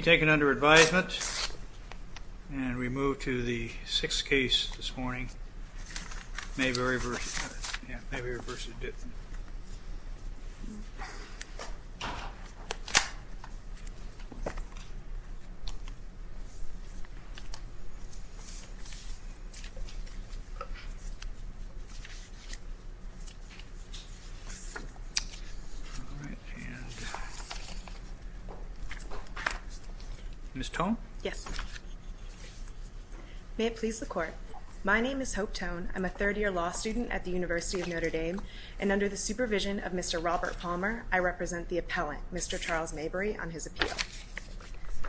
Mayberry v. Michael A. Dittmann Ms. Tone. Yes. May it please the court. My name is Hope Tone. I'm a third-year law student at the University of Notre Dame, and under the supervision of Mr. Robert Palmer, I represent the appellant, Mr. Charles Mayberry, on his appeal.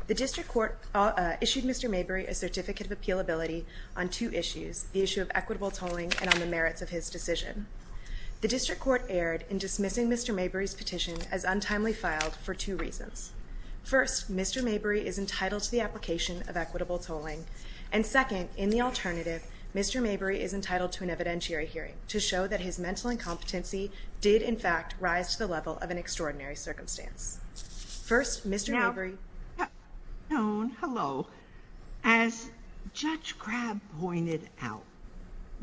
The district court issued Mr. Mayberry a certificate of appealability on two issues, the issue of equitable tolling and on the merits of his decision. The district court erred in dismissing Mr. Mayberry's petition as untimely filed for two reasons. First, Mr. Mayberry is entitled to the application of equitable tolling. And second, in the alternative, Mr. Mayberry is entitled to an evidentiary hearing to show that his mental incompetency did, in fact, rise to the level of an extraordinary circumstance. First, Mr. Mayberry. Ms. Tone, hello. As Judge Grab pointed out,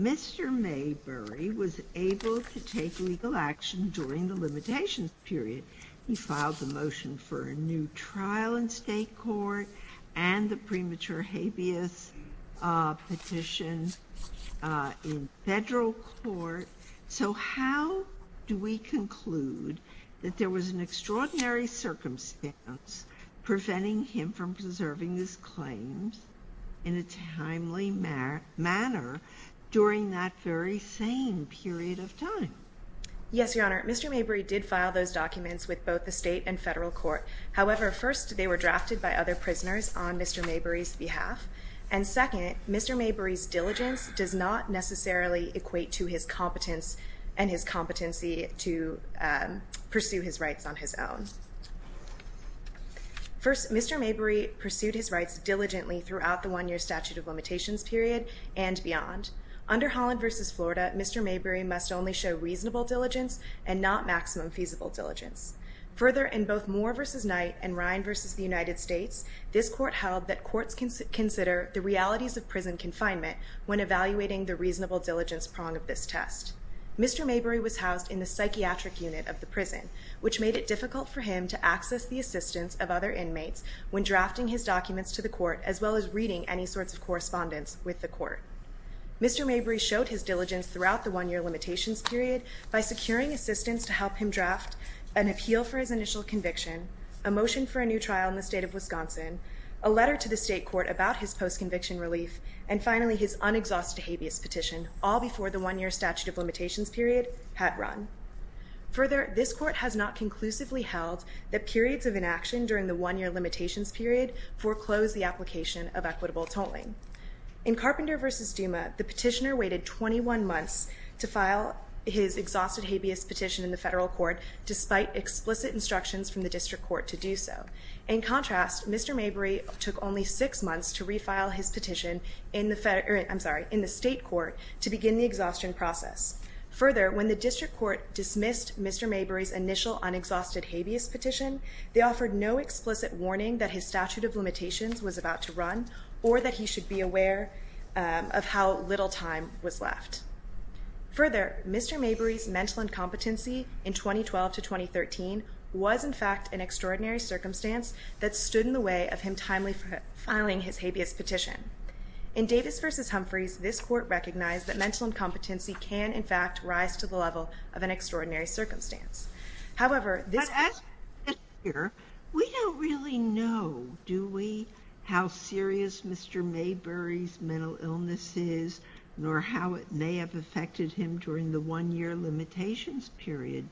Mr. Mayberry was able to take legal action during the limitations period. He filed the motion for a new trial in state court and the premature habeas petition in federal court. So how do we conclude that there was an extraordinary circumstance preventing him from preserving his claims in a timely manner during that very same period of time? Yes, Your Honor, Mr. Mayberry did file those documents with both the state and federal court. However, first, they were drafted by other prisoners on Mr. Mayberry's behalf. And second, Mr. Mayberry's diligence does not necessarily equate to his competence and his competency to pursue his rights on his own. First, Mr. Mayberry pursued his rights diligently throughout the one-year statute of limitations period and beyond. Under Holland v. Florida, Mr. Mayberry must only show reasonable diligence and not maximum feasible diligence. Further, in both Moore v. Knight and Ryan v. the United States, this court held that courts can consider the realities of prison confinement when evaluating the reasonable diligence prong of this test. Mr. Mayberry was housed in the psychiatric unit of the prison, which made it difficult for him to access the assistance of other inmates when drafting his documents to the court as well as reading any sorts of correspondence with the court. Mr. Mayberry showed his diligence throughout the one-year limitations period by securing assistance to help him draft an appeal for his initial conviction, a motion for a new trial in the state of Wisconsin, a letter to the state court about his post-conviction relief, and finally his unexhausted habeas petition, all before the one-year statute of limitations period had run. Further, this court has not conclusively held that periods of inaction during the one-year limitations period foreclose the application of equitable tolling. In Carpenter v. Duma, the petitioner waited 21 months to file his exhausted habeas petition in the federal court despite explicit instructions from the district court to do so. In contrast, Mr. Mayberry took only six months to refile his petition in the state court to begin the exhaustion process. Further, when the district court dismissed Mr. Mayberry's initial unexhausted habeas petition, they offered no explicit warning that his statute of limitations was about to run or that he should be aware of how little time was left. Further, Mr. Mayberry's mental incompetency in 2012-2013 was in fact an extraordinary circumstance that stood in the way of him timely filing his habeas petition. In Davis v. Humphreys, this court recognized that mental incompetency can, in fact, rise to the level of an extraordinary circumstance. However, this court... But as we sit here, we don't really know, do we, how serious Mr. Mayberry's mental illness is nor how it may have affected him during the one-year limitations period,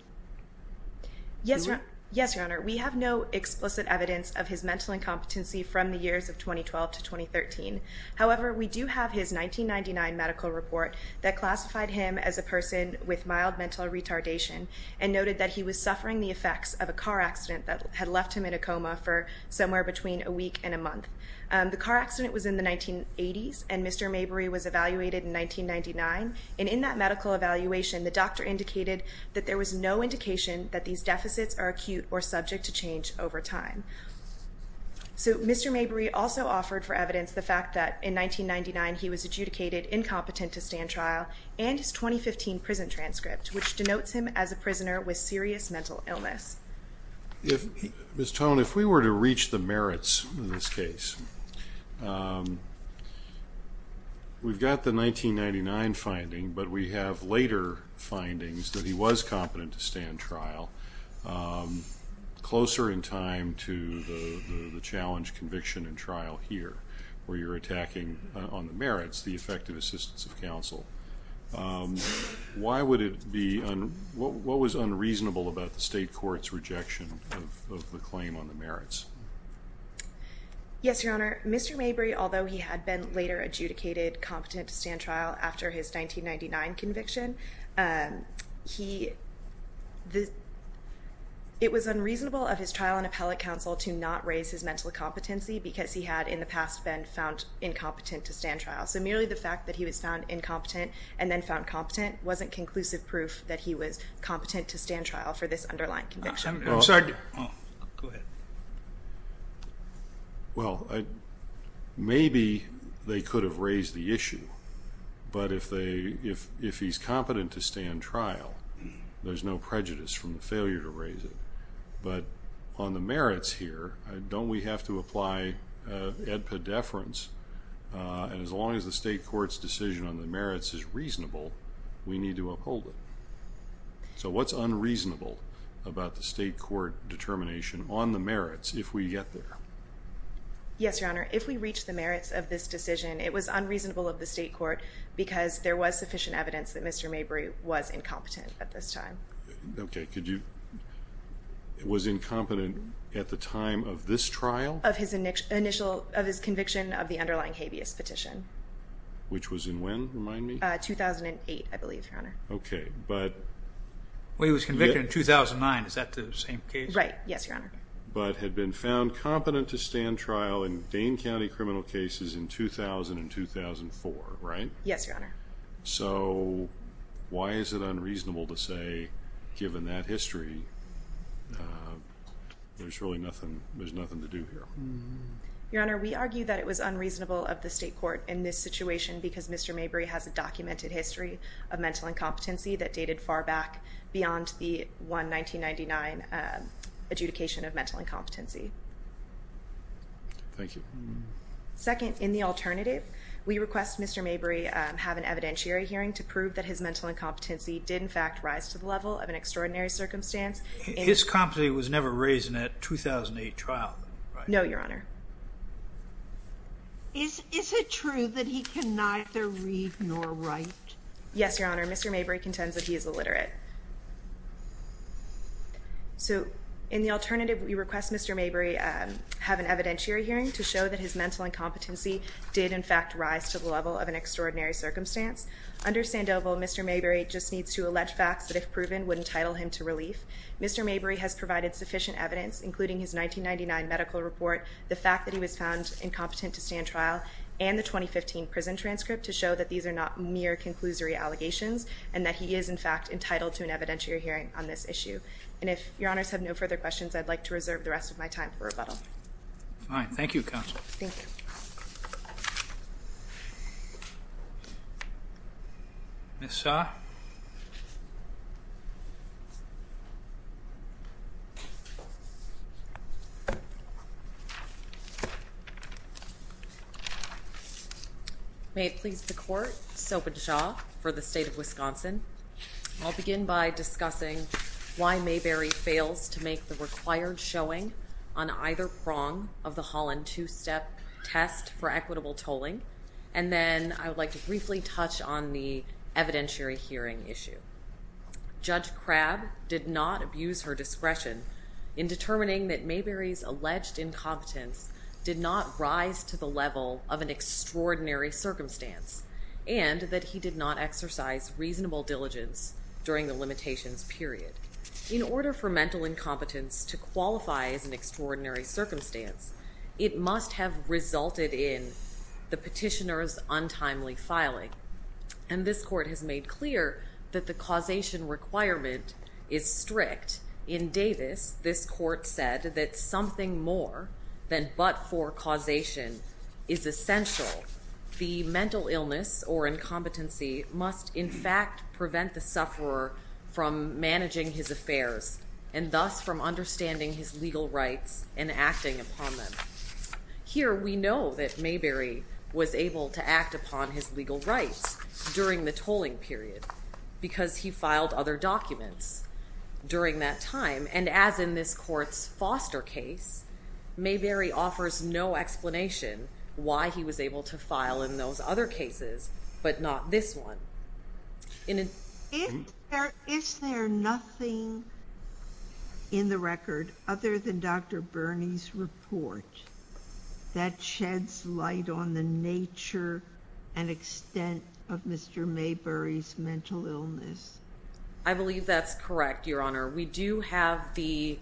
do we? Yes, Your Honor. We have no explicit evidence of his mental incompetency from the years of 2012-2013. However, we do have his 1999 medical report that classified him as a person with mild mental retardation and noted that he was suffering the effects of a car accident that had left him in a coma for somewhere between a week and a month. The car accident was in the 1980s and Mr. Mayberry was evaluated in 1999. And in that medical evaluation, the doctor indicated that there was no indication that these deficits are acute or subject to change over time. So Mr. Mayberry also offered for evidence the fact that in 1999 he was adjudicated incompetent to stand trial and his 2015 prison transcript, which denotes him as a prisoner with serious mental illness. Ms. Tone, if we were to reach the merits of this case, we've got the 1999 finding, but we have later findings that he was competent to stand trial closer in time to the challenge conviction and trial here, where you're attacking on the merits, the effective assistance of counsel. What was unreasonable about the state court's rejection of the claim on the merits? Yes, Your Honor. Mr. Mayberry, although he had been later adjudicated competent to stand trial after his 1999 conviction, it was unreasonable of his trial on appellate counsel to not raise his mental competency because he had in the past been found incompetent to stand trial. So merely the fact that he was found incompetent and then found competent wasn't conclusive proof that he was competent to stand trial for this underlying conviction. I'm sorry. Go ahead. Well, maybe they could have raised the issue, but if he's competent to stand trial, there's no prejudice from the failure to raise it. But on the merits here, don't we have to apply ad pediferance? And as long as the state court's decision on the merits is reasonable, we need to uphold it. So what's unreasonable about the state court determination on the merits if we get there? Yes, Your Honor. If we reach the merits of this decision, it was unreasonable of the state court because there was sufficient evidence that Mr. Mayberry was incompetent at this time. Okay. Was incompetent at the time of this trial? Of his conviction of the underlying habeas petition. Which was in when? Remind me. 2008, I believe, Your Honor. Okay. Well, he was convicted in 2009. Is that the same case? Right. Yes, Your Honor. But had been found competent to stand trial in Dane County criminal cases in 2000 and 2004, right? Yes, Your Honor. So why is it unreasonable to say, given that history, there's really nothing to do here? Your Honor, we argue that it was unreasonable of the state court in this situation because Mr. Mayberry has a documented history of mental incompetency that dated far back beyond the one 1999 adjudication of mental incompetency. Thank you. Second, in the alternative, we request Mr. Mayberry have an evidentiary hearing to prove that his mental incompetency did, in fact, rise to the level of an extraordinary circumstance. His competency was never raised in a 2008 trial, right? No, Your Honor. Is it true that he can neither read nor write? Yes, Your Honor. Mr. Mayberry contends that he is illiterate. So in the alternative, we request Mr. Mayberry have an evidentiary hearing to show that his mental incompetency did, in fact, rise to the level of an extraordinary circumstance. Under Sandoval, Mr. Mayberry just needs to allege facts that, if proven, would entitle him to relief. Mr. Mayberry has provided sufficient evidence, including his 1999 medical report, the fact that he was found incompetent to stand trial, and the 2015 prison transcript to show that these are not mere conclusory allegations and that he is, in fact, entitled to an evidentiary hearing on this issue. And if Your Honors have no further questions, I'd like to reserve the rest of my time for rebuttal. Fine. Thank you, Counsel. Thank you. Ms. Sah? May it please the Court, Soap and Shaw for the State of Wisconsin. I'll begin by discussing why Mayberry fails to make the required showing on either prong of the Holland two-step test for equitable tolling, and then I would like to briefly touch on the evidentiary hearing issue. Judge Crabb did not abuse her discretion in determining that Mayberry's alleged incompetence did not rise to the level of an extraordinary circumstance and that he did not exercise reasonable diligence during the limitations period. In order for mental incompetence to qualify as an extraordinary circumstance, it must have resulted in the petitioner's untimely filing, and this Court has made clear that the causation requirement is strict. In fact, in Davis, this Court said that something more than but-for causation is essential. The mental illness or incompetency must, in fact, prevent the sufferer from managing his affairs and thus from understanding his legal rights and acting upon them. Here, we know that Mayberry was able to act upon his legal rights during the tolling period because he filed other documents during that time, and as in this Court's Foster case, Mayberry offers no explanation why he was able to file in those other cases but not this one. Is there nothing in the record other than Dr. Birney's report that sheds light on the nature and extent of Mr. Mayberry's mental illness? I believe that's correct, Your Honor. We do have the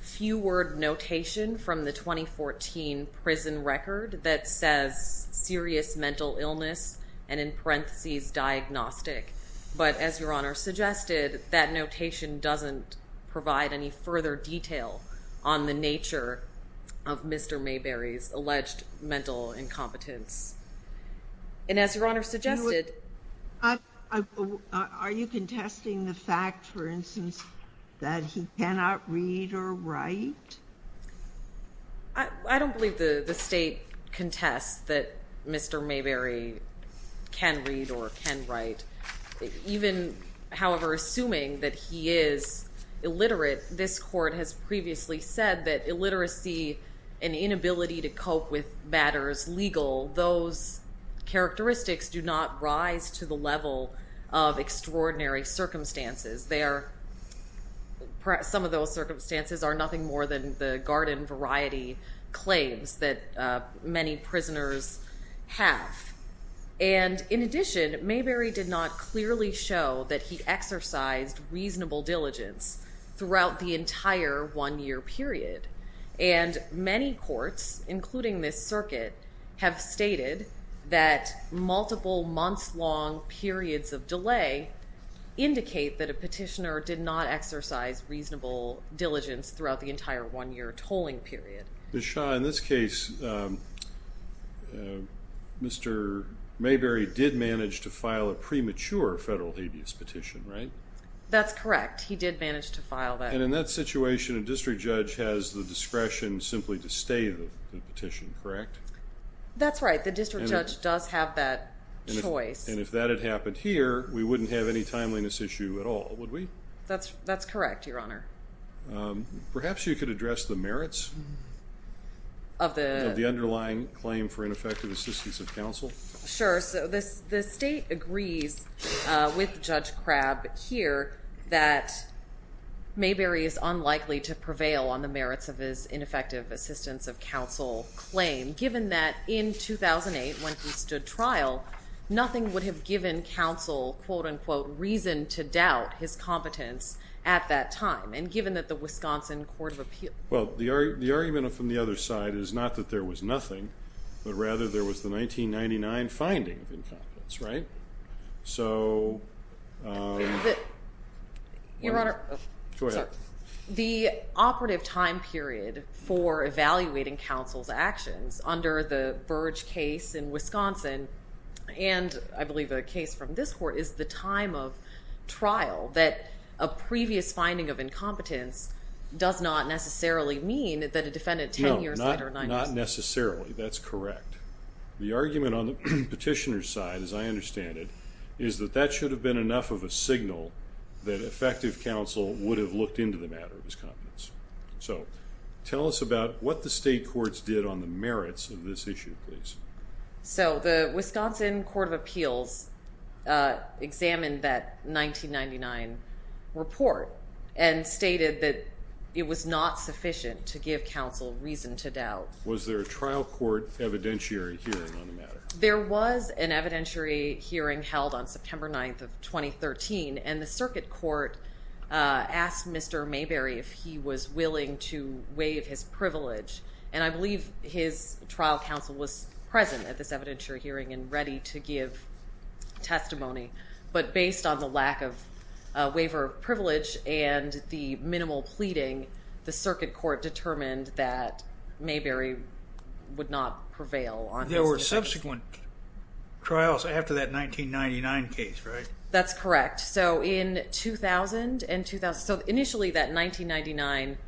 few-word notation from the 2014 prison record that says serious mental illness and in parentheses diagnostic, but as Your Honor suggested, that notation doesn't provide any further detail on the nature of Mr. Mayberry's alleged mental incompetence. Are you contesting the fact, for instance, that he cannot read or write? I don't believe the State contests that Mr. Mayberry can read or can write. Even, however, assuming that he is illiterate, this Court has previously said that illiteracy and inability to cope with matters legal, those characteristics do not rise to the level of extraordinary circumstances. Some of those circumstances are nothing more than the garden variety claims that many prisoners have. And in addition, Mayberry did not clearly show that he exercised reasonable diligence throughout the entire one-year period. And many courts, including this circuit, have stated that multiple months-long periods of delay indicate that a petitioner did not exercise reasonable diligence throughout the entire one-year tolling period. Ms. Shaw, in this case, Mr. Mayberry did manage to file a premature federal habeas petition, right? That's correct. He did manage to file that. And in that situation, a district judge has the discretion simply to stay the petition, correct? That's right. The district judge does have that choice. And if that had happened here, we wouldn't have any timeliness issue at all, would we? That's correct, Your Honor. Perhaps you could address the merits of the underlying claim for ineffective assistance of counsel. Sure. So the State agrees with Judge Crabb here that Mayberry is unlikely to prevail on the merits of his ineffective assistance of counsel claim, given that in 2008, when he stood trial, nothing would have given counsel, quote-unquote, reason to doubt his competence at that time. And given that the Wisconsin Court of Appeals… Well, the argument from the other side is not that there was nothing, but rather there was the 1999 finding of incompetence, right? Your Honor, the operative time period for evaluating counsel's actions under the Burge case in Wisconsin, and I believe a case from this court, is the time of trial that a previous finding of incompetence does not necessarily mean that a defendant 10 years later… No, not necessarily. That's correct. The argument on the petitioner's side, as I understand it, is that that should have been enough of a signal that effective counsel would have looked into the matter of his competence. So, tell us about what the state courts did on the merits of this issue, please. So, the Wisconsin Court of Appeals examined that 1999 report and stated that it was not sufficient to give counsel reason to doubt. Was there a trial court evidentiary hearing on the matter? There was an evidentiary hearing held on September 9th of 2013, and the circuit court asked Mr. Mayberry if he was willing to waive his privilege. And I believe his trial counsel was present at this evidentiary hearing and ready to give testimony. But based on the lack of waiver of privilege and the minimal pleading, the circuit court determined that Mayberry would not prevail on his defense. There were subsequent trials after that 1999 case, right? That's correct. So, in 2000 and… So, initially that 1999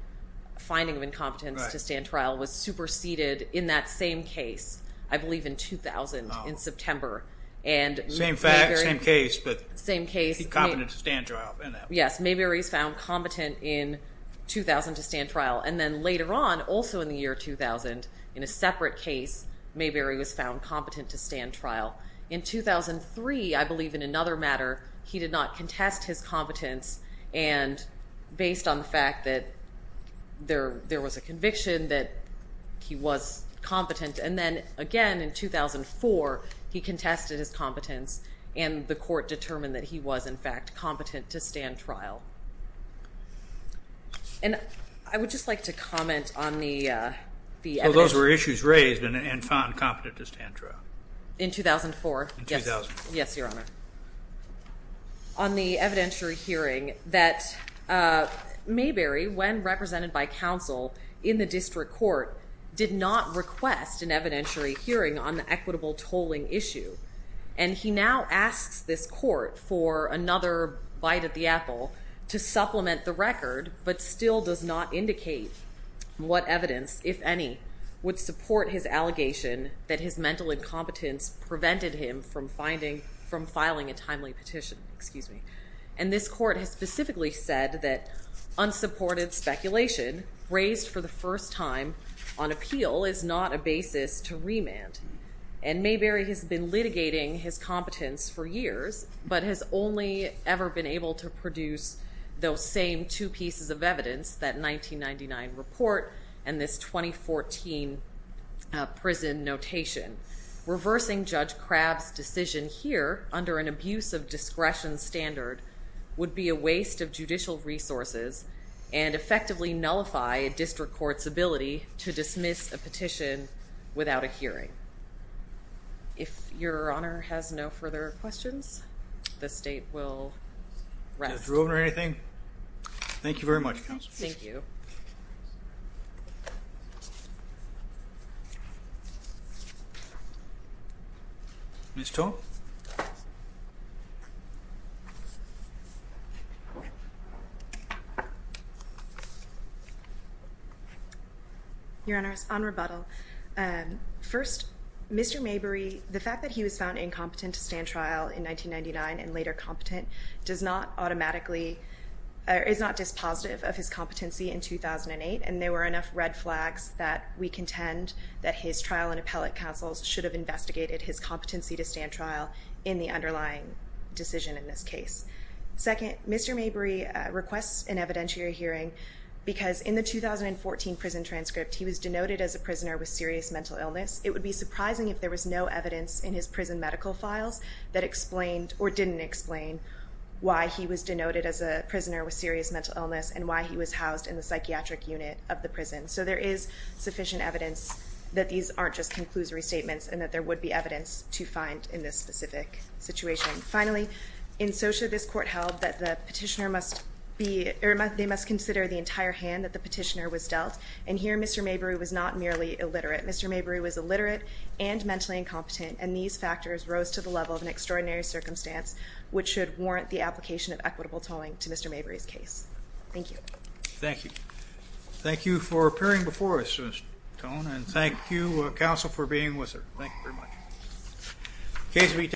finding of incompetence to stand trial was superseded in that same case, I believe in 2000, in September. Same fact, same case, but he's competent to stand trial in that one. Yes, Mayberry is found competent in 2000 to stand trial. And then later on, also in the year 2000, in a separate case, Mayberry was found competent to stand trial. In 2003, I believe in another matter, he did not contest his competence, and based on the fact that there was a conviction that he was competent. And then, again, in 2004, he contested his competence, and the court determined that he was, in fact, competent to stand trial. And I would just like to comment on the… Well, those were issues raised and found competent to stand trial. In 2004? In 2004. Yes, Your Honor. On the evidentiary hearing that Mayberry, when represented by counsel in the district court, did not request an evidentiary hearing on the equitable tolling issue. And he now asks this court for another bite of the apple to supplement the record, but still does not indicate what evidence, if any, would support his allegation that his mental incompetence prevented him from filing a timely petition. And this court has specifically said that unsupported speculation raised for the first time on appeal is not a basis to remand. And Mayberry has been litigating his competence for years, but has only ever been able to produce those same two pieces of evidence, that 1999 report and this 2014 prison notation. Reversing Judge Crabb's decision here, under an abuse of discretion standard, would be a waste of judicial resources and effectively nullify a district court's ability to dismiss a petition without a hearing. If Your Honor has no further questions, the State will rest. Mr. Rubin or anything? Thank you very much, Counsel. Thank you. Ms. Toh? Your Honor, on rebuttal. First, Mr. Mayberry, the fact that he was found incompetent to stand trial in 1999 and later competent is not dispositive of his competency in 2008. And there were enough red flags that we contend that his trial in appellate counsels should have investigated his competency to stand trial in the underlying decision in this case. Second, Mr. Mayberry requests an evidentiary hearing because in the 2014 prison transcript, he was denoted as a prisoner with serious mental illness. It would be surprising if there was no evidence in his prison medical files that explained or didn't explain why he was denoted as a prisoner with serious mental illness and why he was housed in the psychiatric unit of the prison. So there is sufficient evidence that these aren't just conclusory statements and that there would be evidence to find in this specific situation. Finally, in SOCIA, this court held that the petitioner must be – they must consider the entire hand that the petitioner was dealt. And here, Mr. Mayberry was not merely illiterate. Mr. Mayberry was illiterate and mentally incompetent, and these factors rose to the level of an extraordinary circumstance, which should warrant the application of equitable towing to Mr. Mayberry's case. Thank you. Thank you. Thank you for appearing before us, Ms. Tohn, and thank you, Counsel, for being with us. Thank you very much.